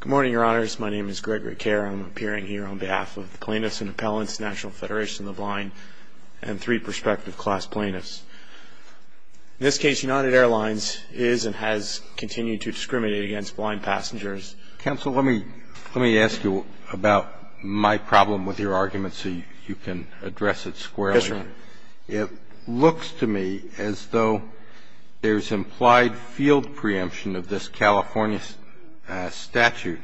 Good morning, Your Honors. My name is Gregory Kerr. I'm appearing here on behalf of the Plaintiffs and Appellants, National Federation of the Blind, and three prospective class plaintiffs. In this case, United Airlines is and has continued to discriminate against blind passengers. Counsel, let me ask you about my problem with your argument so you can address it squarely. Yes, sir. It looks to me as though there's implied field preemption of this California statute.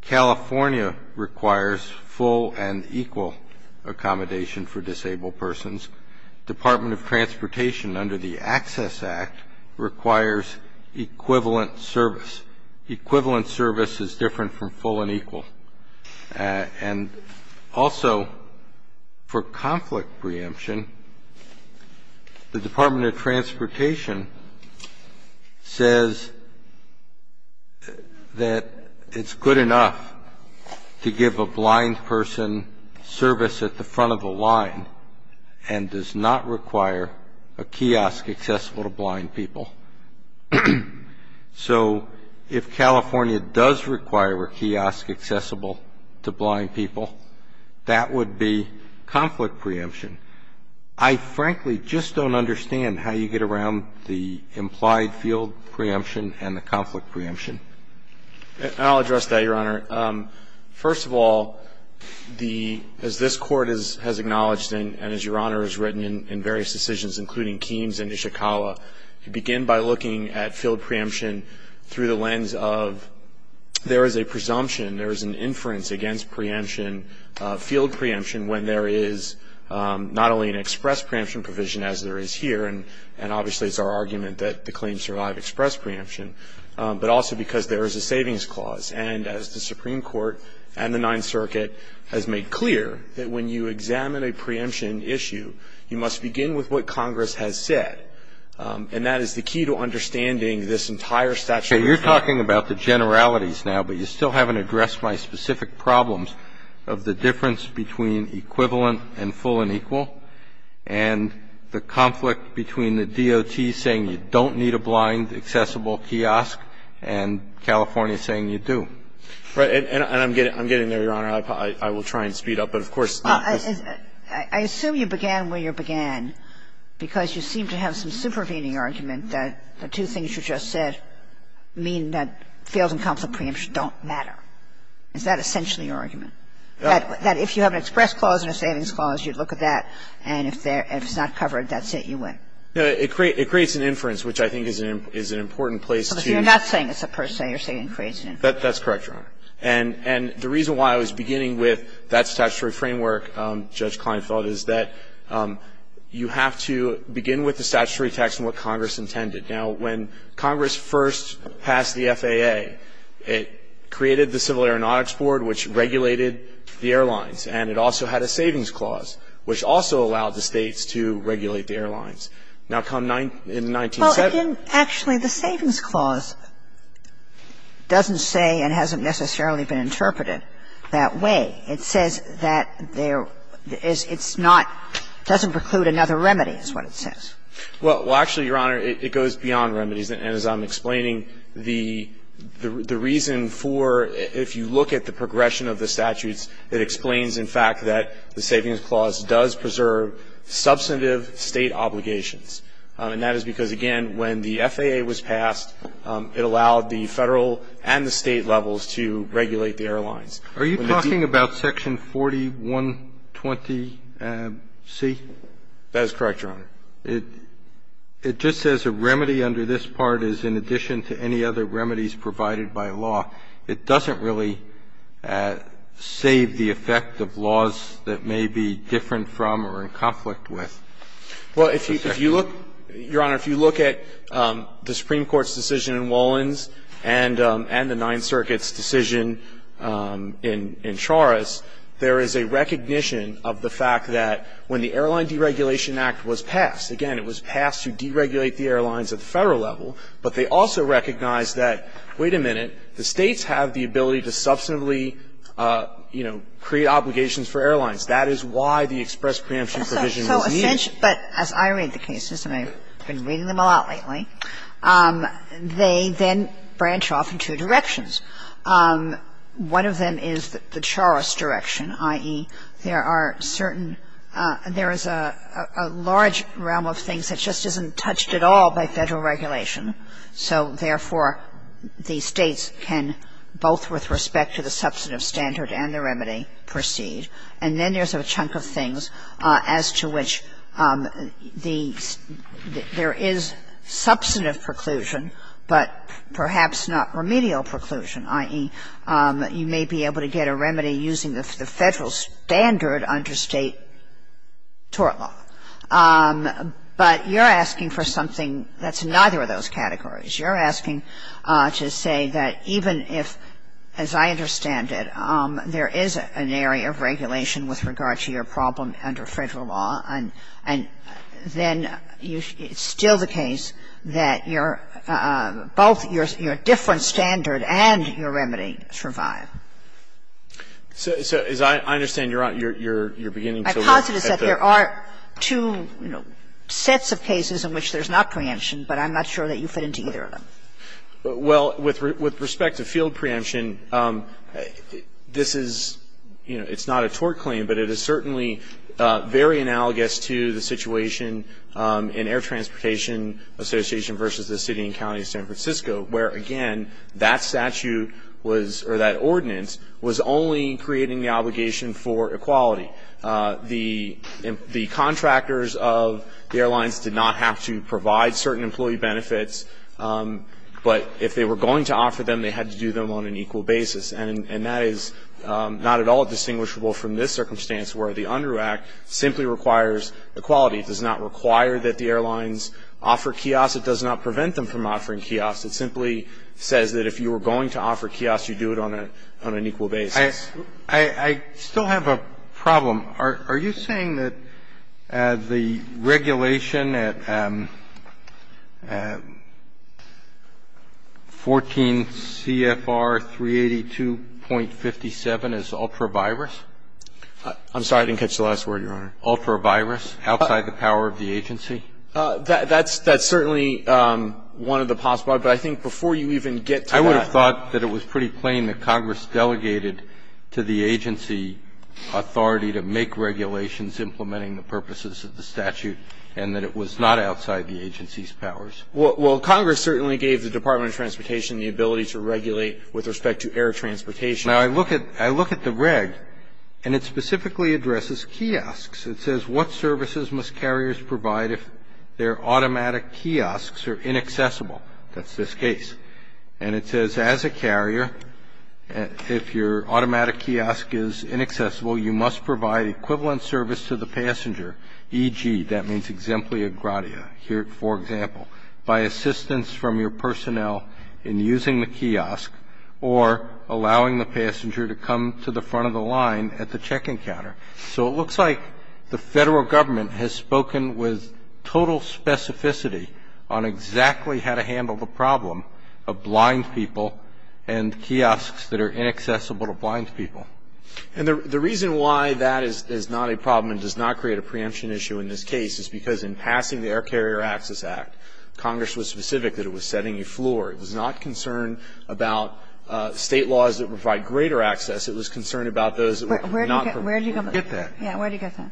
California requires full and equal accommodation for disabled persons. Department of Transportation, under the Access Act, requires equivalent service. Equivalent service is different from full and equal. And also, for conflict preemption, the Department of Transportation says that it's good enough to give a blind person service at the front of the line and does not require a kiosk accessible to blind people. So if California does require a kiosk accessible to blind people, that would be conflict preemption. I frankly just don't understand how you get around the implied field preemption and the conflict preemption. I'll address that, Your Honor. First of all, as this Court has acknowledged and as Your Honor has written in various decisions, including Keen's and Ishikawa, you begin by looking at field preemption through the lens of there is a presumption, there is an inference against preemption, field preemption, when there is not only an express preemption provision as there is here, and obviously it's our argument that the claims survive express preemption, but also because there is a savings clause. And as the Supreme Court and the Ninth Circuit has made clear, that when you examine a preemption issue, you must begin with what Congress has said. And that is the key to understanding this entire statute. You're talking about the generalities now, but you still haven't addressed my specific problems of the difference between equivalent and full and equal and the conflict between the DOT saying you don't need a blind accessible kiosk and California saying you do. And I'm getting there, Your Honor. I will try and speed up. But, of course, this is I assume you began where you began because you seem to have some supervening argument that the two things you just said mean that field and conflict preemption don't matter. Is that essentially your argument? That if you have an express clause and a savings clause, you'd look at that, and if it's not covered, that's it, you win. No. It creates an inference, which I think is an important place to But you're not saying it's a per se. You're saying it creates an inference. That's correct, Your Honor. And the reason why I was beginning with that statutory framework, Judge Kleinfeld, is that you have to begin with the statutory text and what Congress intended. Now, when Congress first passed the FAA, it created the Civil Aeronautics Board, which regulated the airlines, and it also had a savings clause, which also allowed the States to regulate the airlines. Now, come in the 1970s And actually, the savings clause doesn't say and hasn't necessarily been interpreted that way. It says that there is not, doesn't preclude another remedy, is what it says. Well, actually, Your Honor, it goes beyond remedies. And as I'm explaining, the reason for, if you look at the progression of the statutes, it explains, in fact, that the savings clause does preserve substantive State obligations. And that is because, again, when the FAA was passed, it allowed the Federal and the State levels to regulate the airlines. Are you talking about section 4120C? That is correct, Your Honor. It just says a remedy under this part is in addition to any other remedies provided by law. It doesn't really save the effect of laws that may be different from or in conflict with. Well, if you look, Your Honor, if you look at the Supreme Court's decision in Wolins and the Ninth Circuit's decision in Charas, there is a recognition of the fact that when the Airline Deregulation Act was passed, again, it was passed to deregulate the airlines at the Federal level, but they also recognized that, wait a minute, the States have the ability to substantively, you know, create obligations for airlines. That is why the express preemption provision was needed. But as I read the cases, and I've been reading them a lot lately, they then branch off in two directions. One of them is the Charas direction, i.e., there are certain – there is a large realm of things that just isn't touched at all by Federal regulation. So, therefore, the States can, both with respect to the substantive standard and the remedy, proceed. And then there's a chunk of things as to which the – there is substantive preclusion, but perhaps not remedial preclusion, i.e., you may be able to get a remedy using the Federal standard under State tort law. But you're asking for something that's neither of those categories. You're asking to say that even if, as I understand it, there is an area of regulation with regard to your problem under Federal law, and then you – it's still the case that you're – both your different standard and your remedy survive. So, as I understand, you're beginning to look at the – My posit is that there are two, you know, sets of cases in which there's not preemption, but I'm not sure that you fit into either of them. Well, with respect to field preemption, this is – you know, it's not a tort claim, but it is certainly very analogous to the situation in Air Transportation Association versus the city and county of San Francisco, where, again, that statute was – or that ordinance was only creating the obligation for equality. The contractors of the airlines did not have to provide certain employee benefits, but if they were going to offer them, they had to do them on an equal basis. And that is not at all distinguishable from this circumstance, where the UNDER Act simply requires equality. It does not require that the airlines offer kiosks. It does not prevent them from offering kiosks. It simply says that if you were going to offer kiosks, you do it on an equal basis. I still have a problem. Are you saying that the regulation at 14 CFR 382.57 is ultra-virus? I'm sorry. I didn't catch the last word, Your Honor. Ultra-virus, outside the power of the agency? That's certainly one of the possible. But I think before you even get to that. I would have thought that it was pretty plain that Congress delegated to the agency authority to make regulations implementing the purposes of the statute, and that it was not outside the agency's powers. Well, Congress certainly gave the Department of Transportation the ability to regulate with respect to air transportation. Now, I look at the reg, and it specifically addresses kiosks. It says, what services must carriers provide if their automatic kiosks are inaccessible? That's this case. And it says, as a carrier, if your automatic kiosk is inaccessible, you must provide equivalent service to the passenger, e.g., that means exemplia gradia. Here, for example, by assistance from your personnel in using the kiosk, or allowing the passenger to come to the front of the line at the check-in counter. So it looks like the Federal Government has spoken with total specificity on exactly how to handle the problem of blind people and kiosks that are inaccessible to blind people. And the reason why that is not a problem and does not create a preemption issue in this case is because in passing the Air Carrier Access Act, Congress was specific that it was setting you floor. It was not concerned about State laws that provide greater access. It was concerned about those that would not provide that. Kagan. Where do you get that? Yeah. Where do you get that?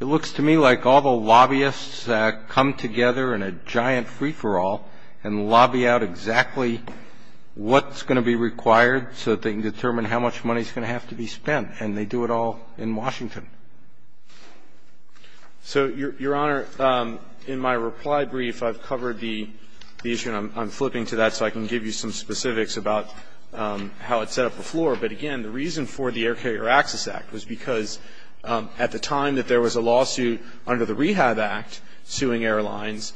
It looks to me like all the lobbyists come together in a giant free-for-all and lobby out exactly what's going to be required so that they can determine how much money is going to have to be spent. And they do it all in Washington. So, Your Honor, in my reply brief, I've covered the issue, and I'm flipping to that so I can give you some specifics about how it set up the floor. But, again, the reason for the Air Carrier Access Act was because at the time that there was a lawsuit under the Rehab Act suing airlines,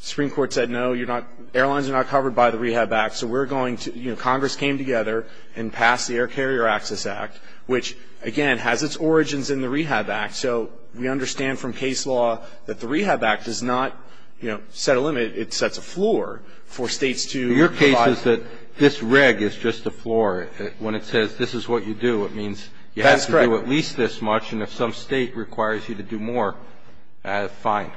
the Supreme Court said, no, you're not, airlines are not covered by the Rehab Act. So we're going to, you know, Congress came together and passed the Air Carrier Access Act, which, again, has its origins in the Rehab Act. So we understand from case law that the Rehab Act does not, you know, set a limit. It sets a floor for States to provide. But the point is that this reg is just a floor. When it says this is what you do, it means you have to do at least this much, and if some State requires you to do more, fine.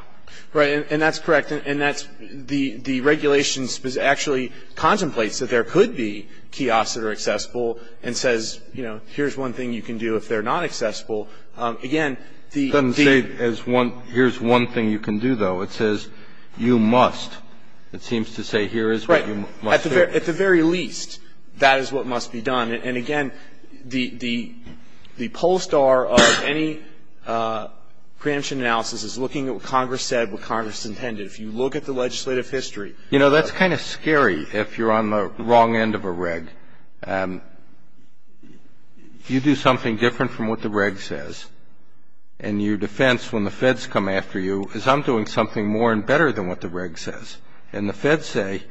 Right, and that's correct. And that's the regulation actually contemplates that there could be kiosks that are accessible and says, you know, here's one thing you can do if they're not accessible. Again, the ---- It doesn't say here's one thing you can do, though. It says you must. It seems to say here is what you must do. At the very least, that is what must be done. And, again, the poll star of any preemption analysis is looking at what Congress said, what Congress intended. If you look at the legislative history ---- You know, that's kind of scary if you're on the wrong end of a reg. If you do something different from what the reg says, and your defense when the Feds come after you is I'm doing something more and better than what the reg says. And the Feds say,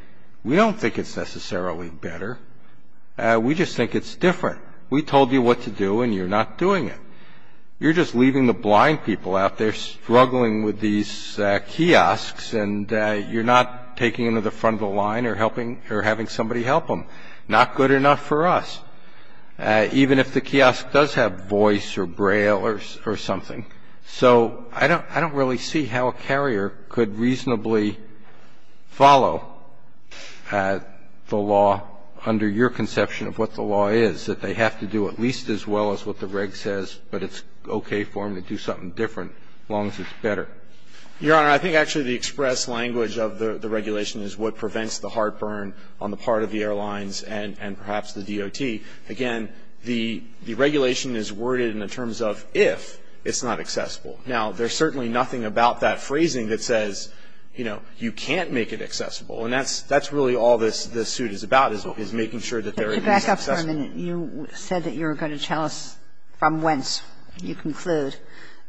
we don't think it's necessarily better. We just think it's different. We told you what to do, and you're not doing it. You're just leaving the blind people out there struggling with these kiosks, and you're not taking them to the front of the line or having somebody help them. Not good enough for us, even if the kiosk does have voice or Braille or something. So I don't really see how a carrier could reasonably follow the law under your conception of what the law is, that they have to do at least as well as what the reg says, but it's okay for them to do something different as long as it's better. Your Honor, I think actually the express language of the regulation is what prevents the heartburn on the part of the airlines and perhaps the DOT. Again, the regulation is worded in the terms of if it's not accessible. Now, there's certainly nothing about that phrasing that says, you know, you can't make it accessible, and that's really all this suit is about, is making sure that they're at least accessible. But to back up for a minute, you said that you were going to tell us from whence you conclude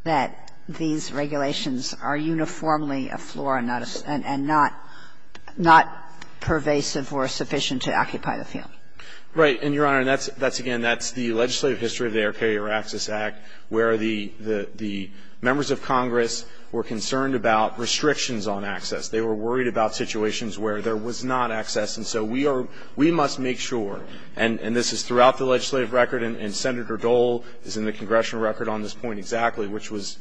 that these regulations are uniformly a floor and not pervasive or sufficient to occupy the field. Right. And, Your Honor, that's, again, that's the legislative history of the Air Carrier Access Act where the members of Congress were concerned about restrictions on access. They were worried about situations where there was not access. And so we must make sure, and this is throughout the legislative record, and Senator Dole is in the congressional record on this point exactly, which was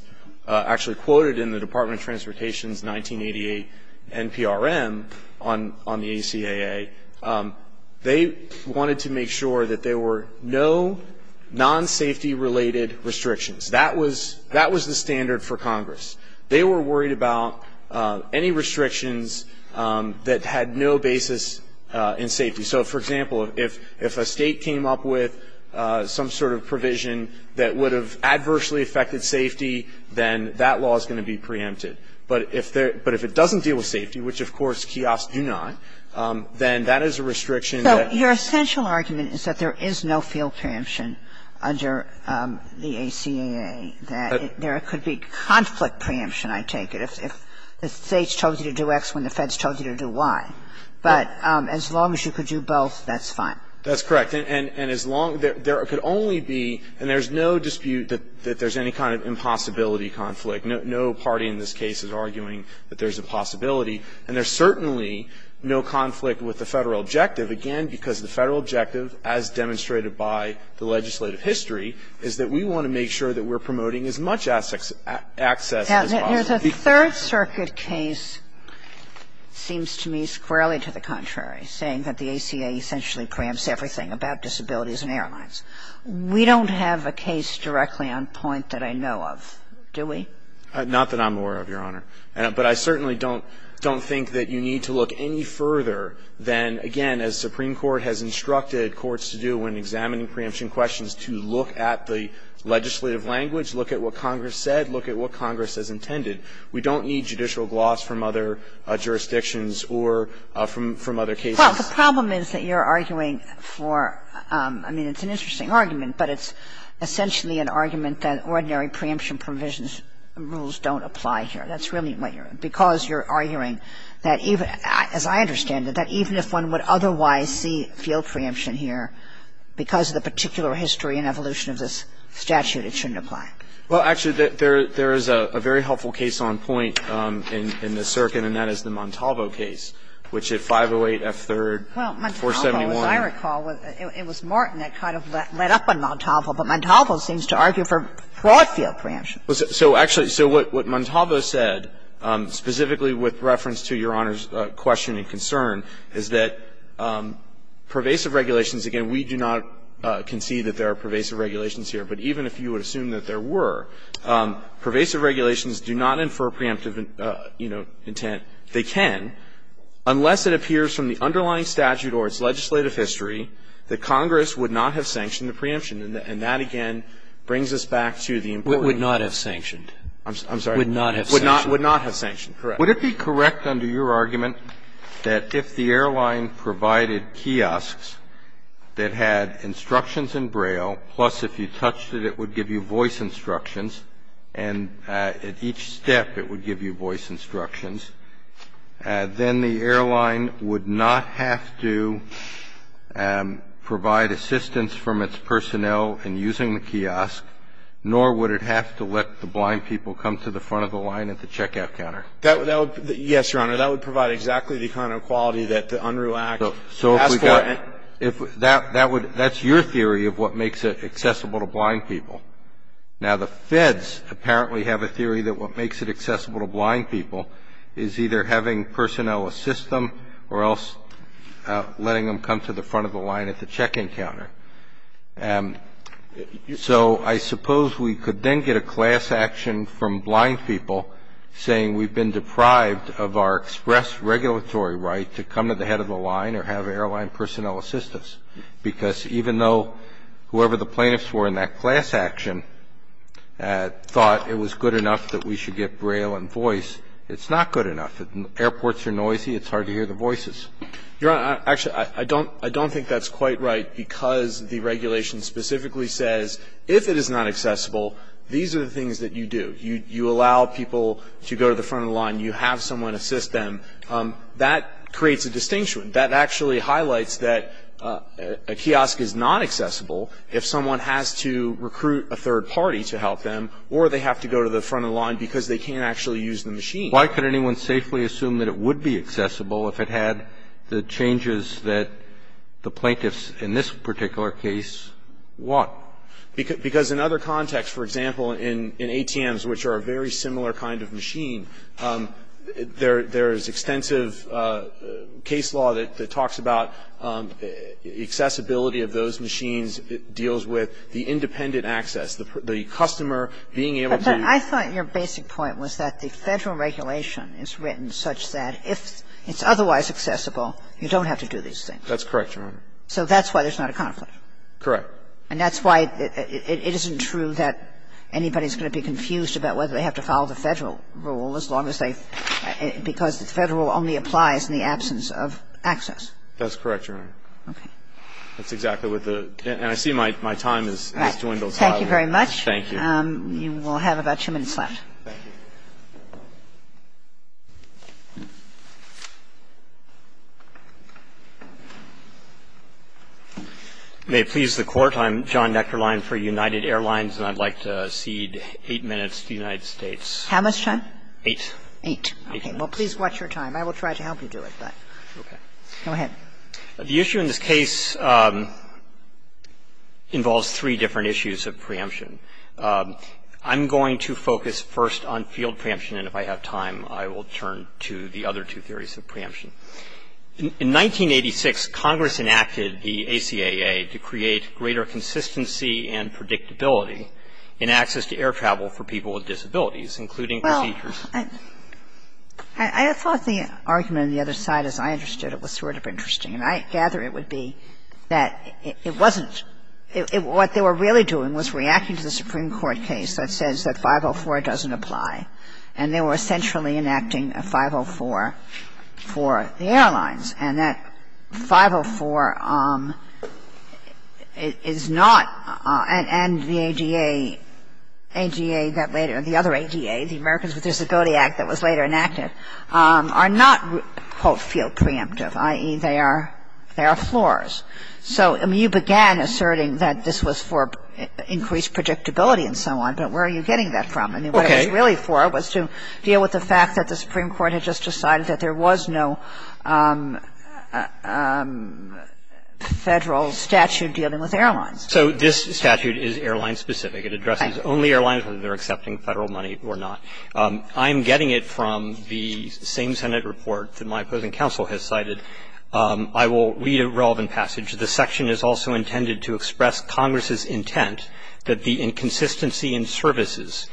actually quoted in the Department of Transportation's 1988 NPRM on the ACAA. They wanted to make sure that there were no non-safety related restrictions. That was the standard for Congress. They were worried about any restrictions that had no basis in safety. So, for example, if a state came up with some sort of provision that would have adversely affected safety, then that law is going to be preempted. But if it doesn't deal with safety, which, of course, kiosks do not, then that is a restriction. So your essential argument is that there is no field preemption under the ACAA, that there could be conflict preemption, I take it, if the states told you to do X when the Feds told you to do Y. But as long as you could do both, that's fine. That's correct. And as long as there could only be, and there's no dispute that there's any kind of impossibility conflict. No party in this case is arguing that there's a possibility. And there's certainly no conflict with the Federal objective. Again, because the Federal objective, as demonstrated by the legislative history, is that we want to make sure that we're promoting as much access as possible. Now, the Third Circuit case seems to me squarely to the contrary, saying that the ACAA essentially preempts everything about disabilities in airlines. We don't have a case directly on point that I know of, do we? Not that I'm aware of, Your Honor. But I certainly don't think that you need to look any further than, again, as the Supreme Court has instructed courts to do when examining preemption questions, to look at the legislative language, look at what Congress said, look at what Congress has intended. We don't need judicial gloss from other jurisdictions or from other cases. Well, the problem is that you're arguing for, I mean, it's an interesting argument, but it's essentially an argument that ordinary preemption provisions rules don't apply here. That's really what you're arguing. Because you're arguing that even, as I understand it, that even if one would otherwise see field preemption here, because of the particular history and evolution of this statute, it shouldn't apply. Well, actually, there is a very helpful case on point in the circuit, and that is the Montalvo case, which at 508 F. 3rd, 471. As I recall, it was Martin that kind of led up on Montalvo, but Montalvo seems to argue for broad field preemption. So actually, so what Montalvo said, specifically with reference to Your Honor's question and concern, is that pervasive regulations, again, we do not concede that there are pervasive regulations here, but even if you would assume that there were, pervasive regulations do not infer preemptive, you know, intent. They can, unless it appears from the underlying statute or its legislative history that Congress would not have sanctioned the preemption, and that, again, brings us back to the importance of the statute. I'm sorry. Would not have sanctioned. Would not have sanctioned, correct. Would it be correct under your argument that if the airline provided kiosks that had instructions in Braille, plus if you touched it, it would give you voice instructions, then the airline would not have to provide assistance from its personnel in using the kiosk, nor would it have to let the blind people come to the front of the line at the checkout counter? Yes, Your Honor. That would provide exactly the kind of quality that the UNRU act asked for. So if we got that, that's your theory of what makes it accessible to blind people. Now, the feds apparently have a theory that what makes it accessible to blind people is either having personnel assist them or else letting them come to the front of the line at the check-in counter. So I suppose we could then get a class action from blind people saying, we've been deprived of our express regulatory right to come to the head of the line or have airline personnel assist us. Because even though whoever the plaintiffs were in that class action thought it was good enough that we should get Braille and voice, it's not good enough. Airports are noisy. It's hard to hear the voices. Your Honor, actually, I don't think that's quite right because the regulation specifically says if it is not accessible, these are the things that you do. You allow people to go to the front of the line. You have someone assist them. That creates a distinction. That actually highlights that a kiosk is not accessible if someone has to recruit a third party to help them or they have to go to the front of the line because they can't actually use the machine. Why could anyone safely assume that it would be accessible if it had the changes that the plaintiffs in this particular case want? Because in other contexts, for example, in ATMs, which are a very similar kind of machine, there is extensive case law that talks about accessibility of those machines. It deals with the independent access, the customer being able to do the same thing. But I thought your basic point was that the Federal regulation is written such that if it's otherwise accessible, you don't have to do these things. That's correct, Your Honor. So that's why there's not a conflict. Correct. And that's why it isn't true that anybody is going to be confused about whether they have to follow the Federal rule as long as they — because the Federal rule only applies in the absence of access. That's correct, Your Honor. Okay. That's exactly what the — and I see my time has joined those five. Thank you very much. Thank you. You will have about two minutes left. Thank you. May it please the Court, I'm John Neckerlein for United Airlines, and I'd like to cede eight minutes to the United States. How much time? Eight. Eight. Okay. Well, please watch your time. I will try to help you do it, but go ahead. The issue in this case involves three different issues of preemption. I'm going to focus first on field preemption, and if I have time, I will turn to the other two theories of preemption. In 1986, Congress enacted the ACAA to create greater consistency and predictability in access to air travel for people with disabilities, including procedures. Well, I thought the argument on the other side, as I understood it, was sort of interesting. And I gather it would be that it wasn't — what they were really doing was reacting to the Supreme Court case that says that 504 doesn't apply, and they were essentially enacting a 504 for the airlines. And that 504 is not — and the ADA — the other ADA, the Americans with Disability Act that was later enacted, are not, quote, field preemptive, i.e., they are floors. So you began asserting that this was for increased predictability and so on, but where are you getting that from? I mean, what it was really for was to deal with the fact that the Supreme Court had just passed a federal statute dealing with airlines. So this statute is airline-specific. It addresses only airlines whether they're accepting Federal money or not. I'm getting it from the same Senate report that my opposing counsel has cited. I will read a relevant passage. The section is also intended to express Congress's intent that the inconsistency in services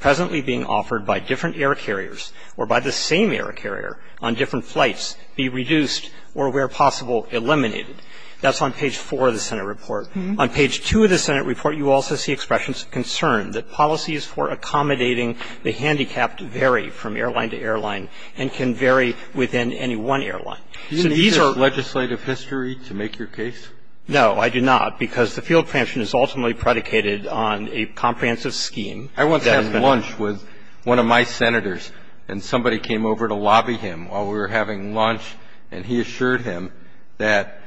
presently being offered by different air carriers or by the same air carrier on different flights be reduced or, where possible, eliminated. That's on page 4 of the Senate report. On page 2 of the Senate report, you also see expressions of concern that policies for accommodating the handicapped vary from airline to airline and can vary within any one airline. So these are — Do you need this legislative history to make your case? No, I do not, because the field preemption is ultimately predicated on a comprehensive scheme. I once had lunch with one of my Senators, and somebody came over to lobby him while we were having lunch, and he assured him that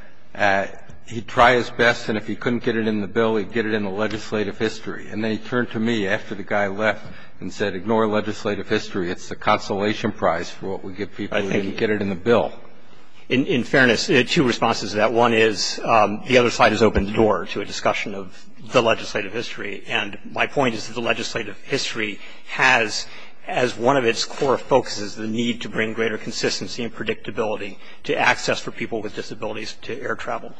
he'd try his best, and if he couldn't get it in the bill, he'd get it in the legislative history. And then he turned to me after the guy left and said, ignore legislative history. It's the consolation prize for what we give people who didn't get it in the bill. In fairness, two responses to that. One is the other side has opened the door to a discussion of the legislative history. And my point is that the legislative history has, as one of its core focuses, the need to bring greater consistency and predictability to access for people with disabilities to air travel.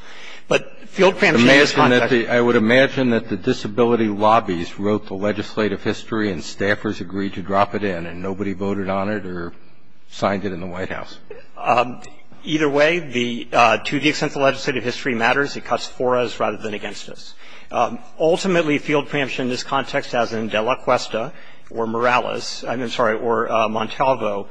But field preemption is not that the — I would imagine that the disability lobbies wrote the legislative history and staffers agreed to drop it in, and nobody voted on it or signed it in the White House. Either way, the — to the extent the legislative history matters, it cuts for us rather than against us. Ultimately, field preemption in this context, as in Dela Cuesta or Morales — I'm sorry, or Montalvo,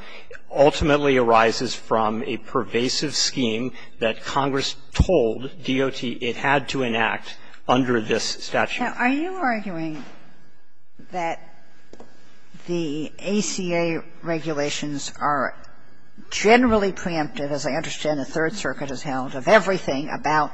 ultimately arises from a pervasive scheme that Congress told DOT it had to enact under this statute. Kagan. Now, are you arguing that the ACA regulations are generally preemptive, as I understand it, in the third circuit as held, of everything about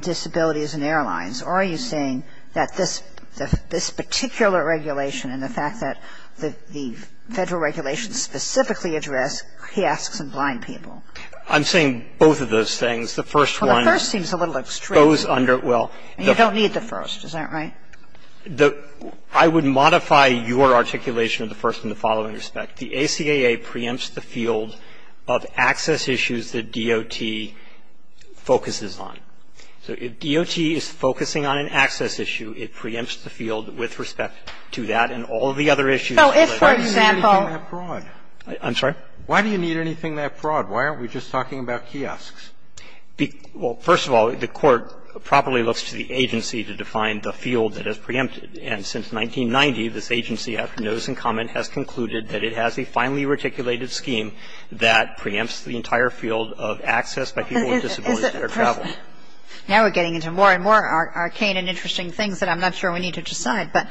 disabilities in airlines? Or are you saying that this particular regulation and the fact that the Federal regulations specifically address kiosks and blind people? I'm saying both of those things. The first one goes under — Well, the first seems a little extreme. Well — You don't need the first. Is that right? I would modify your articulation of the first in the following respect. The ACA preempts the field of access issues that DOT focuses on. So if DOT is focusing on an access issue, it preempts the field with respect to that and all of the other issues. So if, for example — Why do you need anything that broad? I'm sorry? Why do you need anything that broad? Why aren't we just talking about kiosks? Well, first of all, the Court properly looks to the agency to define the field that is preempted. And since 1990, this agency, after notice and comment, has concluded that it has a finely-reticulated scheme that preempts the entire field of access by people with disabilities to their travel. Now we're getting into more and more arcane and interesting things that I'm not sure we need to decide. But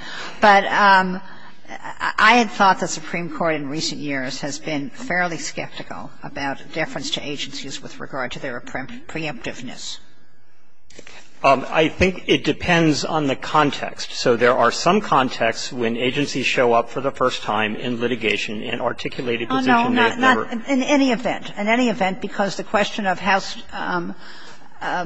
I had thought the Supreme Court in recent years has been fairly skeptical about deference to agencies with regard to their preemptiveness. I think it depends on the context. So there are some contexts when agencies show up for the first time in litigation and articulate a position they've never — Oh, no, not in any event. In any event, because the question of how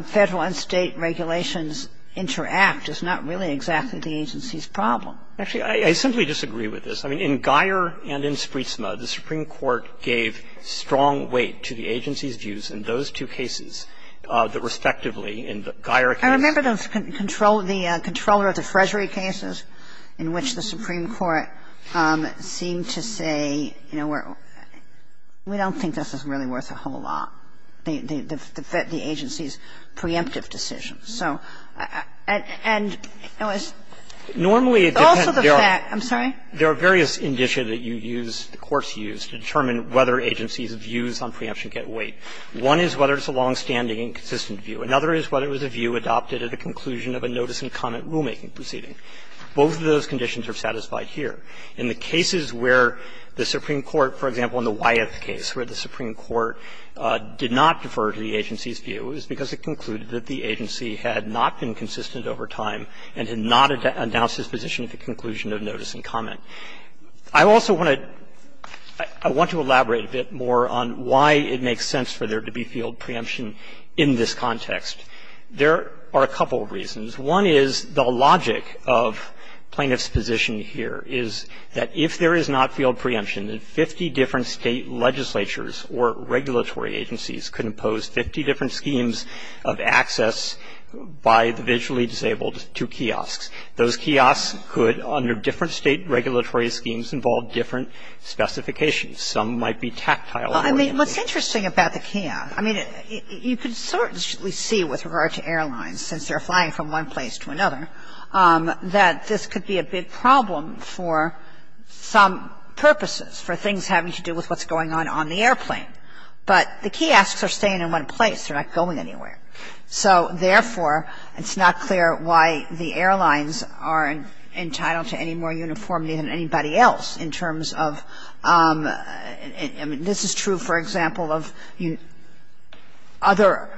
Federal and State regulations interact is not really exactly the agency's problem. Actually, I simply disagree with this. I mean, in Geier and in Spritzma, the Supreme Court gave strong weight to the agency's And I don't think that the agency's views on preemption get weight in any of the cases that respectively in the Geier case. I remember the control — the controller of the Freshery cases in which the Supreme Court seemed to say, you know, we're — we don't think this is really worth a whole lot, the agency's preemptive decision. So — and it was also the fact — I'm sorry? There are various indicia that you use, the courts use, to determine whether agencies' views on preemption get weight. One is whether it's a longstanding and consistent view. Another is whether it was a view adopted at the conclusion of a notice and comment rulemaking proceeding. Both of those conditions are satisfied here. In the cases where the Supreme Court, for example, in the Wyeth case, where the Supreme Court did not defer to the agency's view, it was because it concluded that the agency had not been consistent over time and had not announced its position at the conclusion of notice and comment. I also want to — I want to elaborate a bit more on why it makes sense for there to be field preemption in this context. There are a couple of reasons. One is the logic of plaintiff's position here is that if there is not field preemption, that 50 different state legislatures or regulatory agencies could impose 50 different schemes of access by the visually disabled to kiosks. Those kiosks could, under different state regulatory schemes, involve different specifications. Sotomayor, I mean, what's interesting about the kiosk, I mean, you can certainly see with regard to airlines, since they're flying from one place to another, that this could be a big problem for some purposes, for things having to do with what's going on on the airplane. But the kiosks are staying in one place. They're not going anywhere. So, therefore, it's not clear why the airlines aren't entitled to any more uniformity than anybody else in terms of — I mean, this is true, for example, of other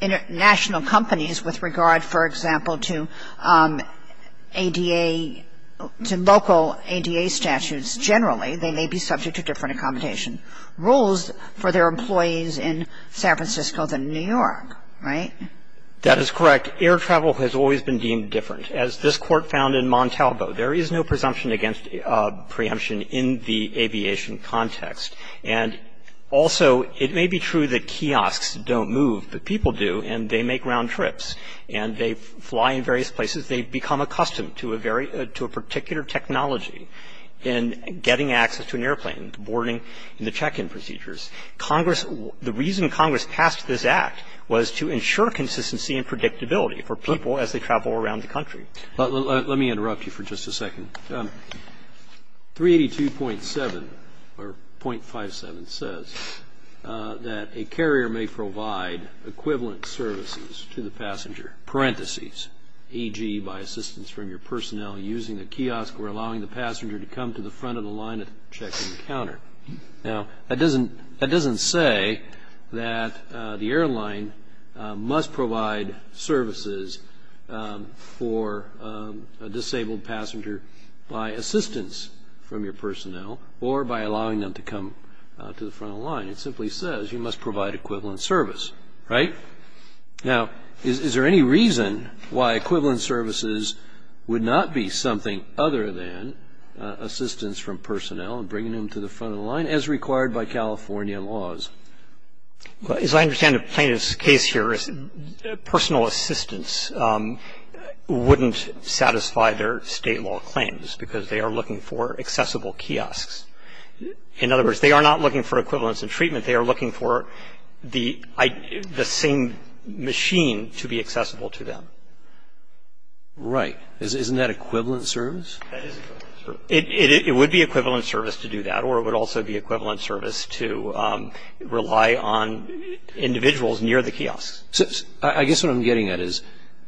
international companies with regard, for example, to ADA — to local ADA statutes. Generally, they may be subject to different accommodation rules for their employees in San Francisco than New York, right? That is correct. Air travel has always been deemed different. As this Court found in Montalvo, there is no presumption against preemption in the aviation context. And also, it may be true that kiosks don't move, but people do, and they make round trips, and they fly in various places. They've become accustomed to a very — to a particular technology in getting access to an airplane, boarding and the check-in procedures. Congress — the reason Congress passed this Act was to ensure consistency and predictability for people as they travel around the country. But let me interrupt you for just a second. 382.7 or .57 says that a carrier may provide equivalent services to the passenger, parentheses, e.g. by assistance from your personnel using the kiosk or allowing the passenger to come to the front of the line to check-in counter. Now, that doesn't — that doesn't say that the airline must provide services for a disabled passenger by assistance from your personnel or by allowing them to come to the front of the line. It simply says you must provide equivalent service, right? Now, is there any reason why equivalent services would not be something other than assistance from personnel and bringing them to the front of the line as required by California laws? Well, as I understand the plaintiff's case here, personal assistance wouldn't satisfy their state law claims because they are looking for accessible kiosks. In other words, they are not looking for equivalence in treatment. They are looking for the same machine to be accessible to them. Right. Isn't that equivalent service? That is equivalent service. It would be equivalent service to do that or it would also be equivalent service to rely on individuals near the kiosks. I guess what I'm getting at is,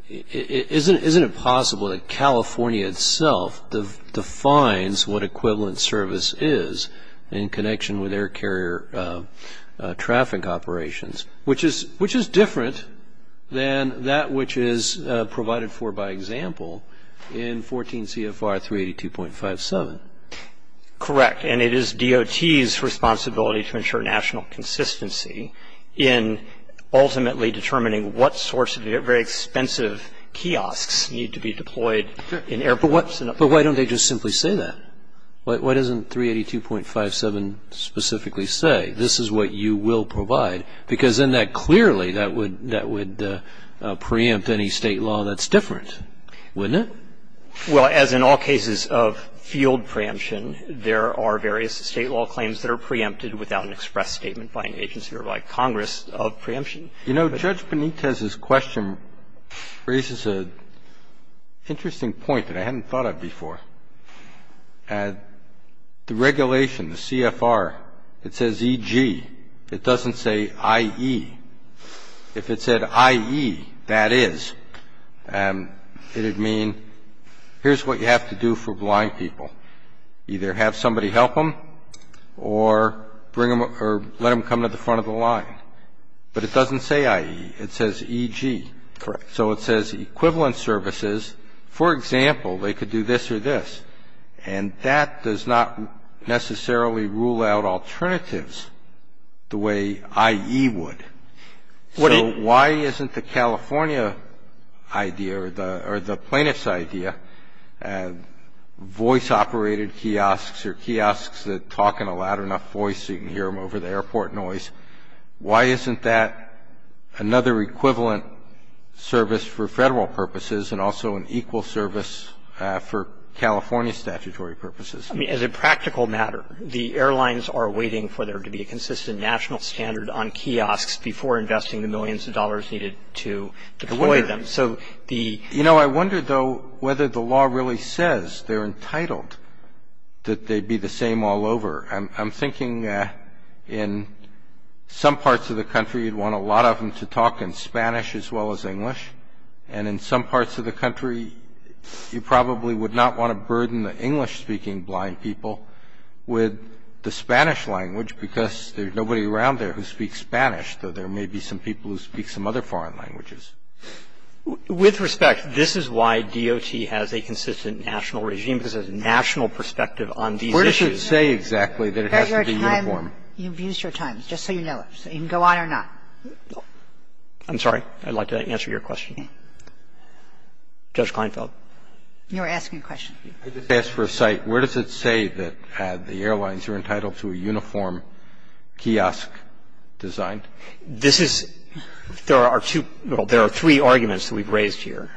isn't it possible that California itself defines what equivalent service is in connection with air carrier traffic operations, which is — which is different than that which is provided for by example in 14 CFR 382.57? Correct. And it is DOT's responsibility to ensure national consistency in ultimately determining what sorts of very expensive kiosks need to be deployed in air — But why don't they just simply say that? Why doesn't 382.57 specifically say, this is what you will provide? Because then that clearly — that would — that would preempt any state law that's different, wouldn't it? Well, as in all cases of field preemption, there are various state law claims that are preempted without an express statement by an agency or by Congress of preemption. You know, Judge Benitez's question raises an interesting point that I hadn't thought of before. At the regulation, the CFR, it says EG. It doesn't say IE. If it said IE, that is, it would mean, here's what you have to do for blind people. Either have somebody help them or bring them — or let them come to the front of the line. But it doesn't say IE. It says EG. Correct. So it says equivalent services. For example, they could do this or this. And that does not necessarily rule out alternatives the way IE would. So why isn't the California idea or the — or the plaintiff's idea, voice-operated kiosks or kiosks that talk in a loud enough voice so you can hear them over the airport noise, why isn't that another equivalent service for Federal purposes and also an equal service for California statutory purposes? I mean, as a practical matter, the airlines are waiting for there to be a consistent national standard on kiosks before investing the millions of dollars needed to deploy them. So the — You know, I wonder, though, whether the law really says they're entitled, that they'd be the same all over. I'm thinking in some parts of the country, you'd want a lot of them to talk in Spanish as well as English. And in some parts of the country, you probably would not want to burden the English-speaking blind people with the Spanish language because there's nobody around there who speaks Spanish, though there may be some people who speak some other foreign languages. With respect, this is why DOT has a consistent national regime, because there's a national perspective on these issues. I don't think it's fair to say exactly that it has to be uniform. But your time — you've used your time, just so you know it. So you can go on or not. I'm sorry. I'd like to answer your question. Judge Kleinfeld. You were asking a question. I just asked for a cite. Where does it say that the airlines are entitled to a uniform kiosk designed? This is — there are two — well, there are three arguments that we've raised here.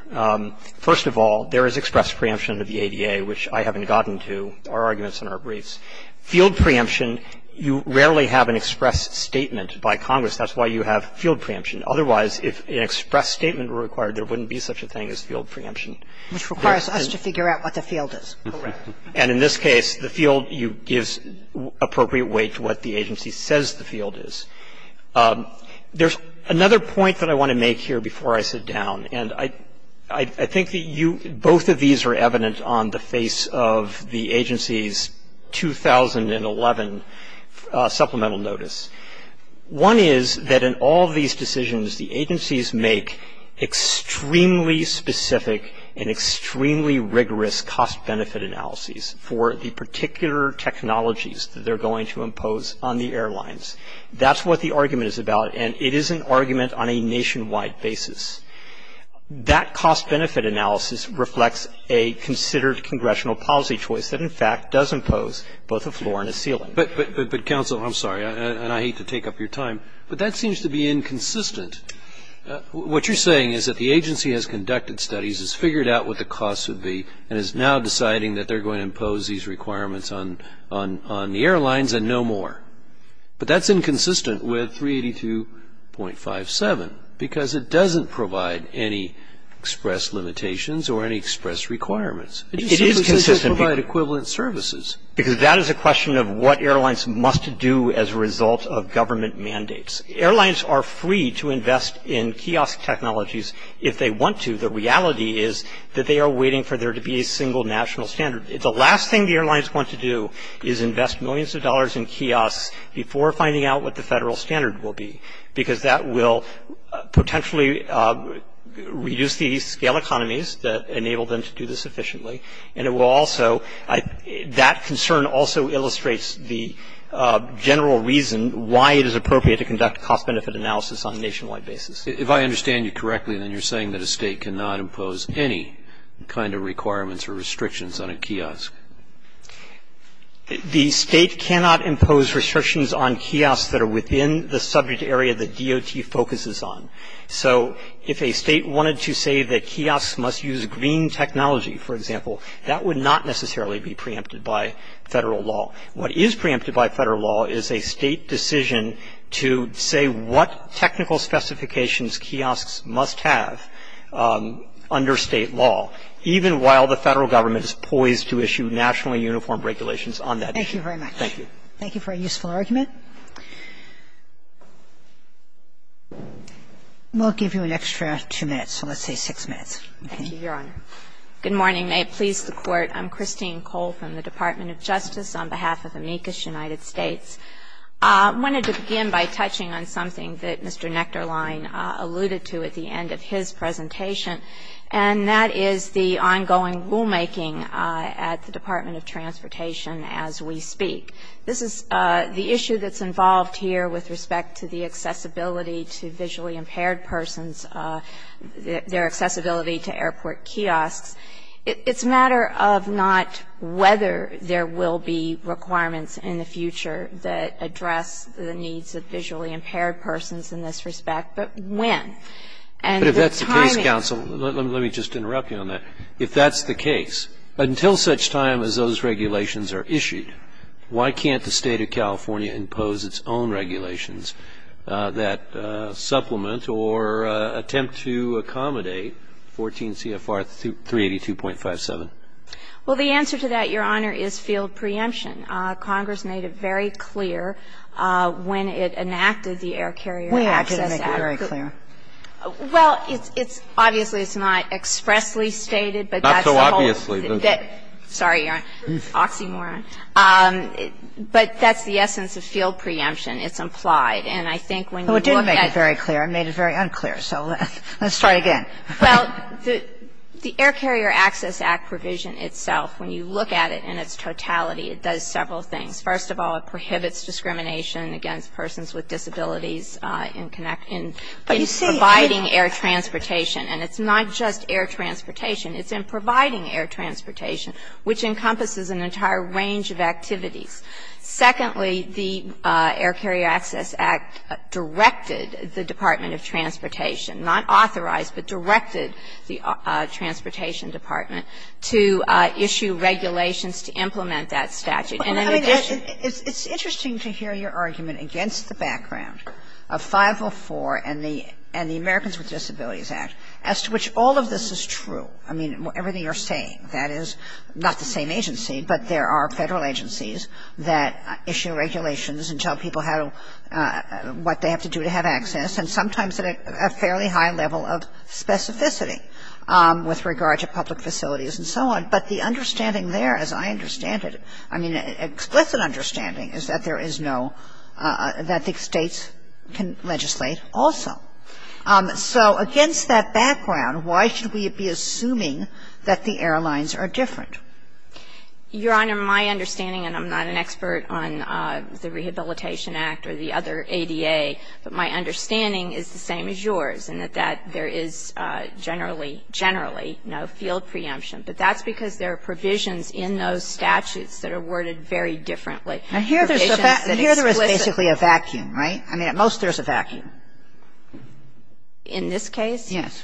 First of all, there is express preemption under the ADA, which I haven't gotten to. Our arguments in our briefs. Field preemption, you rarely have an express statement by Congress. That's why you have field preemption. Otherwise, if an express statement were required, there wouldn't be such a thing as field preemption. Which requires us to figure out what the field is. Correct. And in this case, the field gives appropriate weight to what the agency says the field is. There's another point that I want to make here before I sit down. And I think that you — both of these are evident on the face of the agency's 2011 supplemental notice. One is that in all these decisions, the agencies make extremely specific and extremely rigorous cost-benefit analyses for the particular technologies that they're going to impose on the airlines. That's what the argument is about. And it is an argument on a nationwide basis. That cost-benefit analysis reflects a considered congressional policy choice that, in fact, does impose both a floor and a ceiling. But, Counsel, I'm sorry, and I hate to take up your time, but that seems to be inconsistent. What you're saying is that the agency has conducted studies, has figured out what the costs would be, and is now deciding that they're going to impose these requirements on the airlines and no more. But that's inconsistent with 382.57, because it doesn't provide any express limitations or any express requirements. It is consistent. It doesn't provide equivalent services. Because that is a question of what airlines must do as a result of government mandates. Airlines are free to invest in kiosk technologies if they want to. The reality is that they are waiting for there to be a single national standard. The last thing the airlines want to do is invest millions of dollars in kiosks before finding out what the federal standard will be, because that will potentially reduce the scale economies that enable them to do this efficiently. And it will also – that concern also illustrates the general reason why it is appropriate to conduct cost-benefit analysis on a nationwide basis. If I understand you correctly, then you're saying that a state cannot impose any kind of requirements or restrictions on a kiosk. The state cannot impose restrictions on kiosks that are within the subject area that DOT focuses on. So if a state wanted to say that kiosks must use green technology, for example, that would not necessarily be preempted by federal law. What is preempted by federal law is a state decision to say what technical specifications kiosks must have under state law, even while the federal government is poised to issue nationally uniform regulations on that issue. Thank you very much. Thank you. Thank you for a useful argument. We'll give you an extra two minutes, so let's say six minutes. Thank you, Your Honor. Good morning. May it please the Court. I'm Christine Cole from the Department of Justice on behalf of amicus United States. I wanted to begin by touching on something that Mr. Nectarline alluded to at the end of his presentation, and that is the ongoing rulemaking at the Department of Transportation as we speak. This is the issue that's involved here with respect to the accessibility to visually impaired persons, their accessibility to airport kiosks. It's a matter of not whether there will be requirements in the future that address the needs of visually impaired persons in this respect, but when. But if that's the case, counsel, let me just interrupt you on that. If that's the case, until such time as those regulations are issued, why can't the State of California impose its own regulations that supplement or attempt to accommodate 14 CFR 382.57? Well, the answer to that, Your Honor, is field preemption. Congress made it very clear when it enacted the Air Carrier Access Act. When did it make it very clear? Well, it's obviously it's not expressly stated, but that's the whole thing. Not so obviously. Sorry, Your Honor. It's oxymoron. But that's the essence of field preemption. It's implied. And I think when you look at it. I made it very clear. I made it very unclear. So let's start again. Well, the Air Carrier Access Act provision itself, when you look at it in its totality, it does several things. First of all, it prohibits discrimination against persons with disabilities in providing air transportation. And it's not just air transportation. It's in providing air transportation, which encompasses an entire range of activities. Secondly, the Air Carrier Access Act directed the Department of Transportation not authorized, but directed the Transportation Department to issue regulations to implement that statute. And in addition to that. Well, I mean, it's interesting to hear your argument against the background of 504 and the Americans with Disabilities Act as to which all of this is true. I mean, everything you're saying. That is not the same agency, but there are federal agencies that issue regulations and tell people what they have to do to have access. And sometimes at a fairly high level of specificity with regard to public facilities and so on. But the understanding there, as I understand it, I mean, explicit understanding is that there is no – that the states can legislate also. So against that background, why should we be assuming that the airlines are different? Your Honor, my understanding, and I'm not an expert on the Rehabilitation Act or the other ADA, but my understanding is the same as yours, and that there is generally, generally no field preemption. But that's because there are provisions in those statutes that are worded very differently. Now, here there's a – here there is basically a vacuum, right? I mean, at most there's a vacuum. In this case? Yes.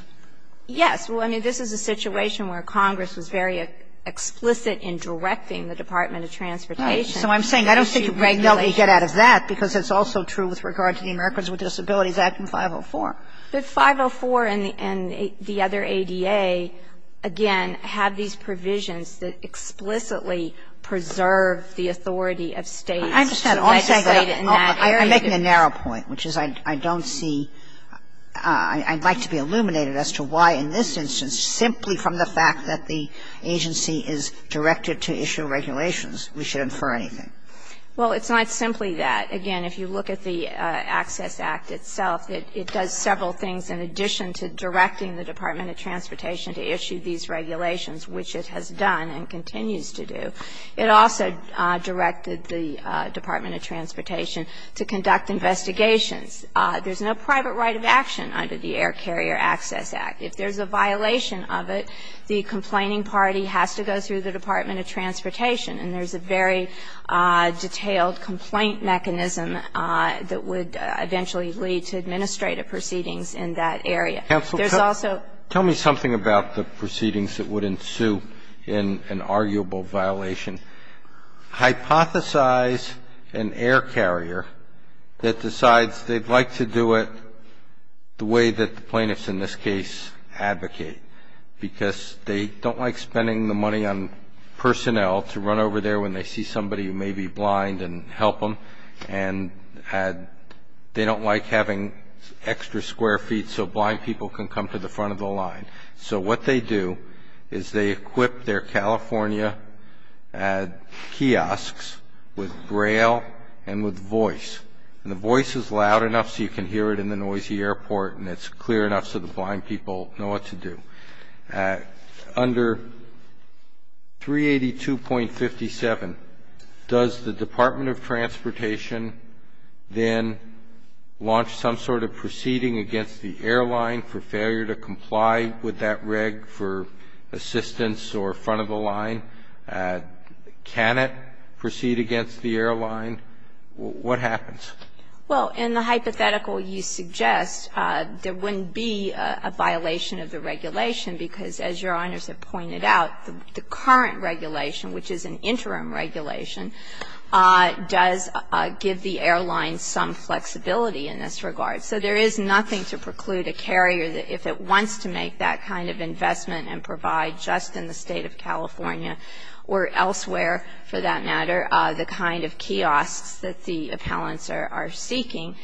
Yes. Well, I mean, this is a situation where Congress was very explicit in directing the Department of Transportation to issue regulations. So I'm saying I don't think you can really get out of that, because it's also true with regard to the Americans with Disabilities Act and 504. But 504 and the other ADA, again, have these provisions that explicitly preserve the authority of states to legislate in that area. I understand. But all I'm saying is that I'm making a narrow point, which is I don't see – I'd like to be illuminated as to why in this instance, simply from the fact that the agency is directed to issue regulations, we should infer anything. Well, it's not simply that. Again, if you look at the Access Act itself, it does several things in addition to directing the Department of Transportation to issue these regulations, which it has done and continues to do. It also directed the Department of Transportation to conduct investigations. There's no private right of action under the Air Carrier Access Act. If there's a violation of it, the complaining party has to go through the Department of Transportation. And there's a very detailed complaint mechanism that would eventually lead to administrative proceedings in that area. Counsel, tell me something about the proceedings that would ensue in an arguable violation. Hypothesize an air carrier that decides they'd like to do it the way that the plaintiffs in this case advocate, because they don't like spending the money on personnel to run over there when they see somebody who may be blind and help them. And they don't like having extra square feet so blind people can come to the front of the line. So what they do is they equip their California kiosks with Braille and with voice. And the voice is loud enough so you can hear it in the noisy airport and it's clear enough so the blind people know what to do. Under 382.57, does the Department of Transportation then launch some sort of proceeding against the airline for failure to comply with that reg for assistance or front of the line? Can it proceed against the airline? What happens? Well, in the hypothetical you suggest, there wouldn't be a violation of the regulation because, as Your Honors have pointed out, the current regulation, which is an interim regulation, does give the airline some flexibility in this regard. So there is nothing to preclude a carrier if it wants to make that kind of investment and provide just in the State of California or elsewhere, for that matter, the kind of kiosks that the appellants are seeking.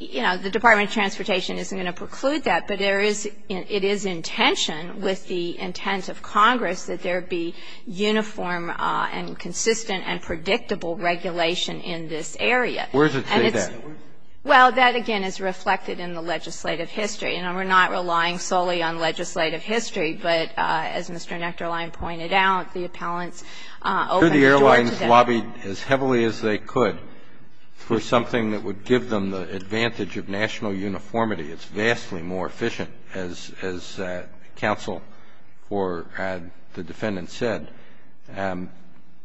You know, the Department of Transportation isn't going to preclude that, but it is in tension with the intent of Congress that there be uniform and consistent and predictable regulation in this area. Where does it say that? Well, that again is reflected in the legislative history. You know, we're not relying solely on legislative history, but as Mr. Nectarline pointed out, the appellants opened the door to that. Could the airlines lobby as heavily as they could for something that would give them the advantage of national uniformity? It's vastly more efficient, as counsel or the defendant said.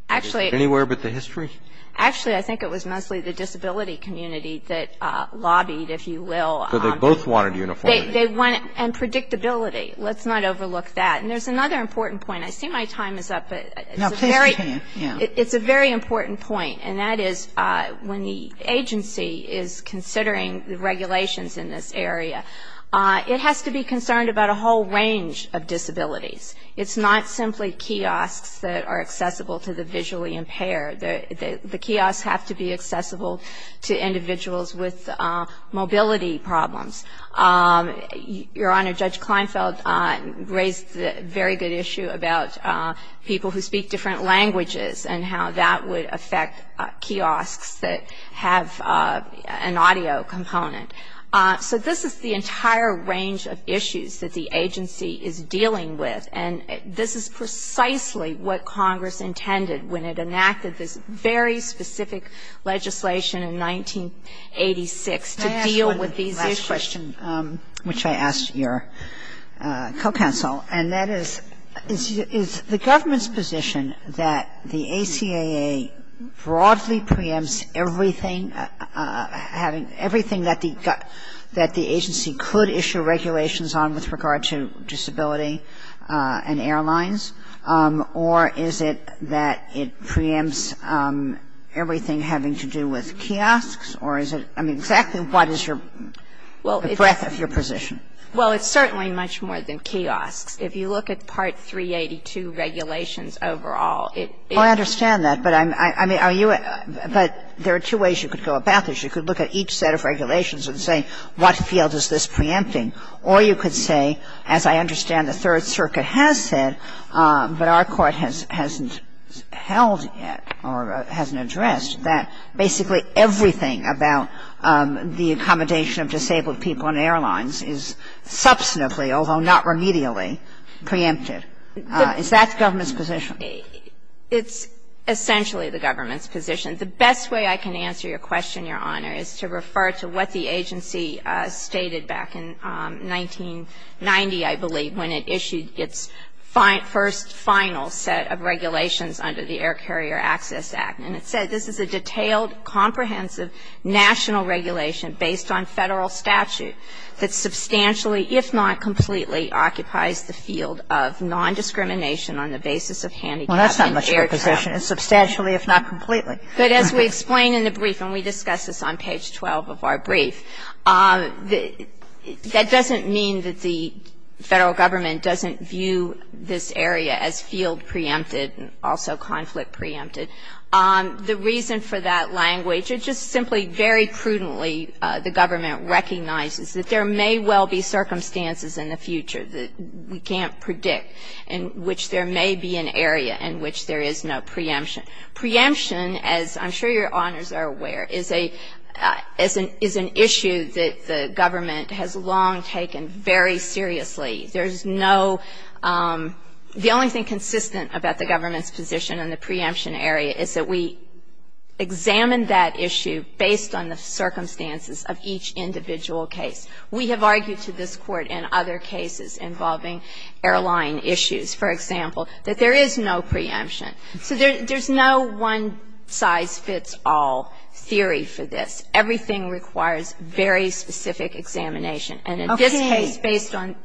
Actually... Anywhere but the history? Actually, I think it was mostly the disability community that lobbied, if you will. So they both wanted uniformity. They wanted... And predictability. Let's not overlook that. And there's another important point. I see my time is up, but... No, please continue. It's a very important point, and that is when the agency is considering the regulations in this area, it has to be concerned about a whole range of disabilities. It's not simply kiosks that are accessible to the visually impaired. The kiosks have to be accessible to individuals with mobility problems. Your Honor, Judge Kleinfeld raised a very good issue about people who speak different languages and how that would affect kiosks that have an audio component. So this is the entire range of issues that the agency is dealing with, and this is precisely what Congress intended when it enacted this very specific legislation in 1986 to deal with these issues. Can I ask one last question, which I asked your co-counsel, and that is, is the government's position that the ACAA broadly preempts everything, having everything that the agency could issue regulations on with regard to disability and airlines, or is it that it preempts everything having to do with kiosks, or is it, I mean, exactly what is the breadth of your position? Well, it's certainly much more than kiosks. If you look at Part 382 regulations overall, it is... Well, I understand that, but I mean, are you, but there are two ways you could go about this. You could look at each set of regulations and say, what field is this preempting? Or you could say, as I understand the Third Circuit has said, but our court hasn't held yet or hasn't addressed, that basically everything about the accommodation of disabled people in airlines is substantively, although not remedially, preempted. Is that the government's position? It's essentially the government's position. The best way I can answer your question, Your Honor, is to refer to what the agency stated back in 1990, I believe, when it issued its first final set of regulations under the Air Carrier Access Act. And it said, this is a detailed, comprehensive national regulation based on Federal statute that substantially, if not completely, occupies the field of nondiscrimination on the basis of handicap and air travel. Well, that's not much of a position. It's substantially, if not completely. But as we explain in the brief, and we discuss this on page 12 of our brief, that doesn't mean that the Federal Government doesn't view this area as field preempted and also conflict preempted. The reason for that language, it just simply very prudently the government recognizes that there may well be circumstances in the future that we can't predict in which there may be an area in which there is no preemption. Preemption, as I'm sure your honors are aware, is an issue that the government has long taken very seriously. There's no, the only thing consistent about the government's position on the preemption area is that we examine that issue based on the circumstances of each individual case. We have argued to this Court in other cases involving airline issues, for example, that there is no preemption. So there's no one-size-fits-all theory for this. Everything requires very specific examination. And in this case, based on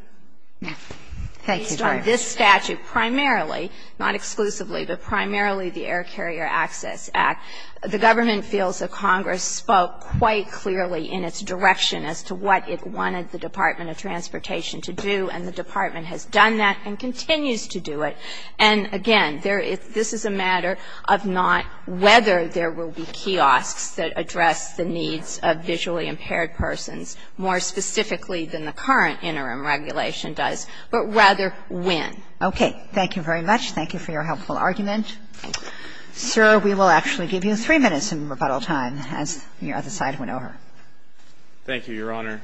this statute, primarily, not exclusively, but primarily the Air Carrier Access Act, the government feels that Congress spoke quite clearly in its direction as to what it wanted the Department of Transportation to do, and the department has done that and continues to do it. And again, this is a matter of not whether there will be kiosks that address the needs of visually impaired persons more specifically than the current interim regulation does, but rather when. Okay. Thank you very much. Thank you for your helpful argument. Thank you. Sir, we will actually give you three minutes in rebuttal time Thank you, Your Honor.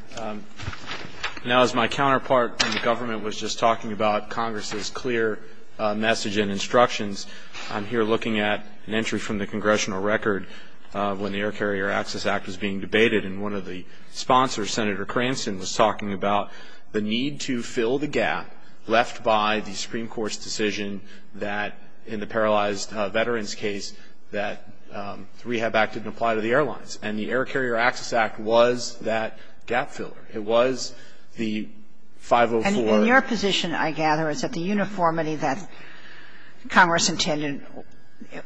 Now, as my counterpart in the government was just talking about Congress's clear message and instructions, I'm here looking at an entry from the congressional record when the Air Carrier Access Act was being debated and one of the sponsors, Senator Cranston, was talking about the need to fill the gap left by the Supreme Court's decision that in the paralyzed veterans case that the Rehab Act didn't apply to the airlines. And the Air Carrier Access Act was that gap filler. It was the 504. And your position, I gather, is that the uniformity that Congress intended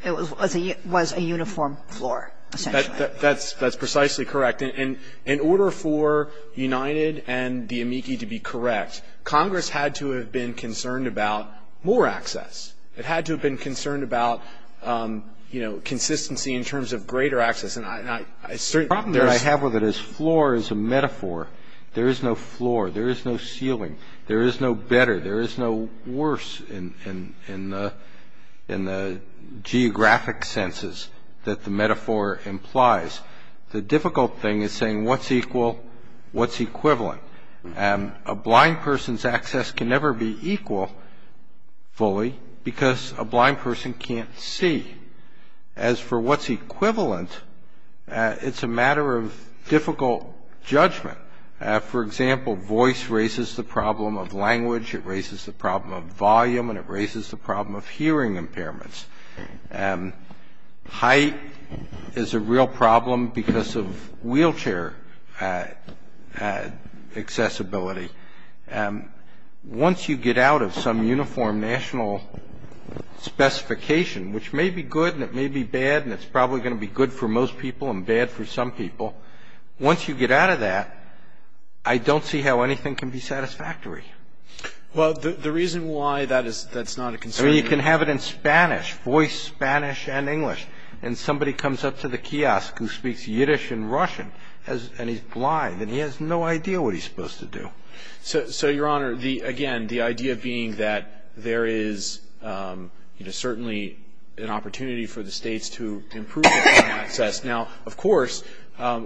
was a uniform floor, essentially. That's precisely correct. In order for United and the amici to be correct, Congress had to have been concerned about more access. It had to have been concerned about, you know, consistency in terms of greater access. The problem that I have with it is floor is a metaphor. There is no floor. There is no ceiling. There is no better. There is no worse in the geographic senses that the metaphor implies. The difficult thing is saying what's equal, what's equivalent. A blind person's access can never be equal fully because a blind person can't see. As for what's equivalent, it's a matter of difficult judgment. For example, voice raises the problem of language. It raises the problem of volume and it raises the problem of hearing impairments. Height is a real problem because of wheelchair accessibility. Once you get out of some uniform national specification, which may be good and it may be bad and it's probably going to be good for most people and bad for some people, once you get out of that, I don't see how anything can be satisfactory. Well, the reason why that's not a concern is... I mean, you can have it in Spanish, voice Spanish and English, and somebody comes up to the kiosk who speaks Yiddish and Russian and he's blind and he has no idea what he's supposed to do. So, Your Honor, again, the idea being that there is certainly an opportunity for the states to improve access. Now, of course,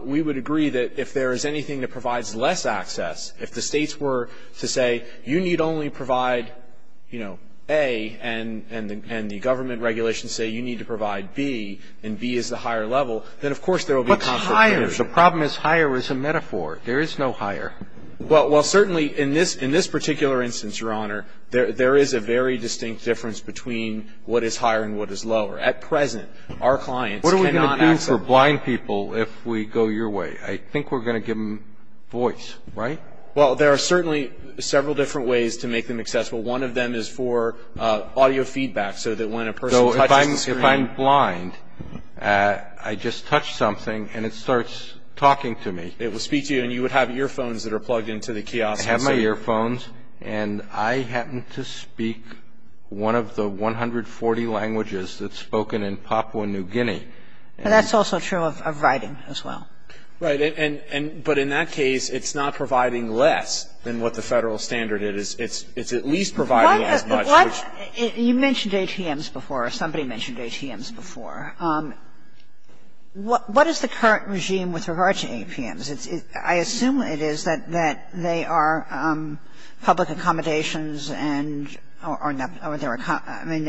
we would agree that if there is anything that provides less access, if the states were to say, you need only provide A and the government regulations say you need to provide B and B is the higher level, then of course there will be... What's higher? The problem is higher is a metaphor. There is no higher. Well, certainly, in this particular instance, Your Honor, there is a very distinct difference between what is higher and what is lower. At present, our clients cannot access... What are we going to do for blind people if we go your way? I think we're going to give them voice, right? Well, there are certainly several different ways to make them accessible. One of them is for audio feedback, so that when a person touches the screen... So, if I'm blind, I just touch something and it starts talking to me. It will speak to you and you would have earphones that are plugged into the kiosk. I have my earphones and I happen to speak one of the 140 languages that's spoken in Papua New Guinea. That's also true of writing as well. Right. But in that case, it's not providing less than what the federal standard is. It's at least providing as much. You mentioned ATMs before. Somebody mentioned ATMs before. What is the current regime with regard to ATMs? I assume it is that they are public accommodations or they're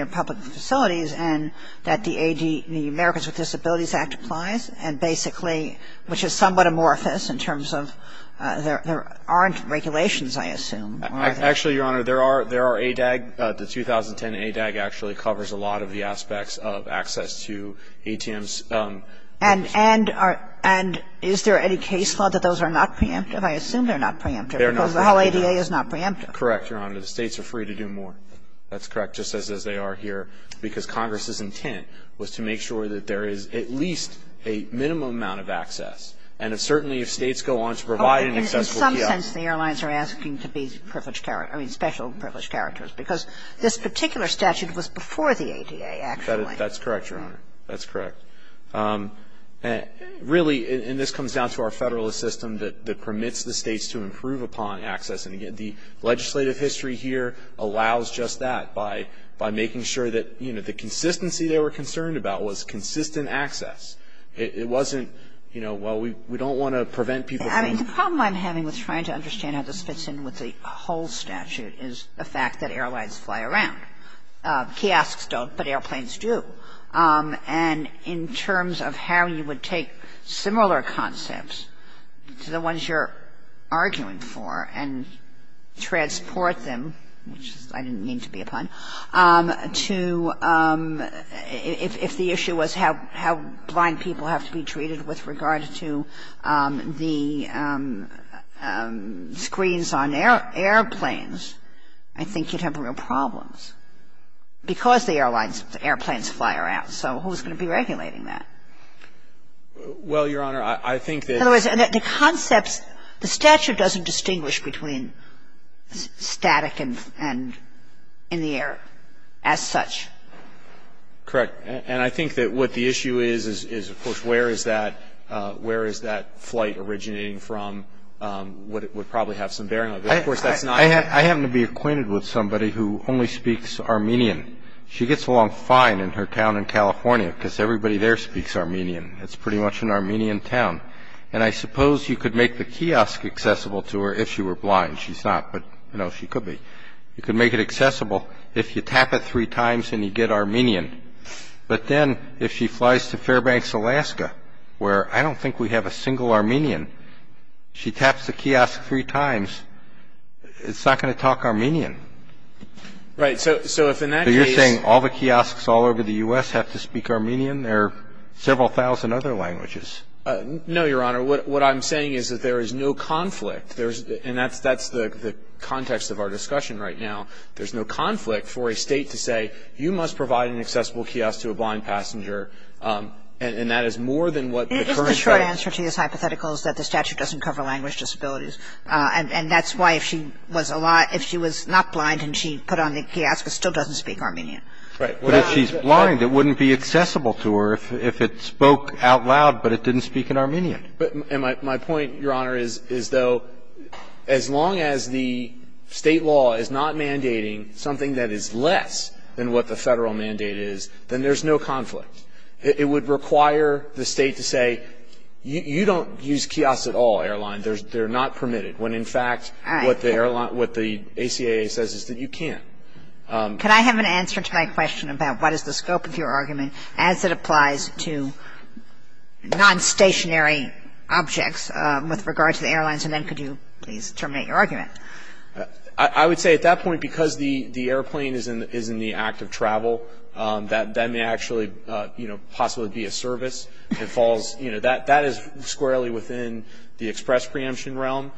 public facilities and that the Americans with Disabilities Act applies and basically, which is somewhat amorphous in terms of there aren't regulations, I assume. Actually, Your Honor, there are ADAG. The 2010 ADAG actually covers a lot of the aspects of access to ATMs. And is there any case law that those are not preemptive? I assume they're not preemptive because the whole ADA is not preemptive. Correct, Your Honor. The states are free to do more. That's correct, just as they are here because Congress's intent was to make sure that there is at least a minimum amount of access and certainly, if states go on to provide an accessible kiosk. In some sense, the airlines are asking to be special privileged characters because this particular statute was before the ADA, actually. That's correct, Your Honor. That's correct. Really, and this comes down to our Federalist system that permits the states to improve upon access and, again, the legislative history here allows just that by making sure that, you know, the consistency they were concerned about was consistent access. It wasn't, you know, well, we don't want to prevent people from I mean, the problem I'm having with trying to understand how this fits in with the whole statute is the fact that airlines fly around. Kiosks don't, but airplanes do. And in terms of how you would take similar concepts to the ones you're arguing for and transport them, which I didn't mean to be a pun, to if the issue was how blind people have to be treated with regard to the screens on airplanes, I think you'd have real problems because the airlines, the airplanes fly around. So who's going to be regulating that? Well, Your Honor, I think that In other words, the concepts, the statute doesn't distinguish between static and in the air as such. Correct. And I think that what the issue is is, of course, where is that where is that flight originating from would probably have some bearing on it. Of course, I happen to be acquainted with somebody who only speaks Armenian. She gets along fine in her town in California because everybody there speaks Armenian. It's pretty much an Armenian town. And I suppose you could make the kiosk accessible to her if she were blind. She's not, but, you know, she could be. You could make it accessible if you tap it three times and you get Armenian. But then, if she flies to Fairbanks, Alaska, where I don't think we have a single Armenian, she taps the kiosk three times, it's not going to talk Armenian. Right. So if in that case So you're saying all the kiosks all over the U.S. have to speak Armenian? There are several thousand other languages. No, Your Honor. What I'm saying is that there is no conflict. There's and that's the context of our discussion right now. There's no conflict for a state to say you must provide an accessible kiosk to a blind passenger and that is more than what the current answer to this hypothetical is that the statute doesn't cover language disabilities. And that's why if she was not blind and she put on the kiosk it still doesn't speak Armenian. Right. But if she's blind it wouldn't be accessible to her if it spoke out loud but it didn't speak in Armenian. My point, Your Honor, is though as long as the state law is not mandating something that is less than what the Federal mandate is, then there's no conflict. It would require the state to say you don't use kiosks at all, airline. They're not permitted when in fact what the ACAA says is that you can't. Could I have an answer to my question about what is the scope of your argument as it applies to non-stationary objects with regard to the airlines and then could you please terminate your argument? I would say at that point because the airplane is in the act of travel that may actually possibly be a service that falls that is squarely within the express preemption realm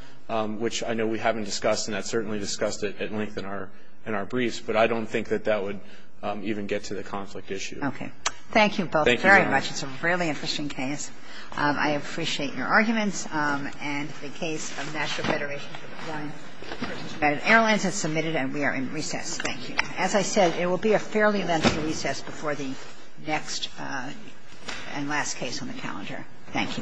which I know we haven't discussed and that's certainly discussed at length in our briefs but I don't think that that would even get to the conflict issue. Okay. Thank you both very much. Thank you, Your Honor. It's a really interesting case. I appreciate your arguments and the case of National Federation of the Blind for the United Airlines is submitted and we are in recess. Thank you. As I said, it will be a fairly lengthy recess before the next and last case on the calendar. Thank you.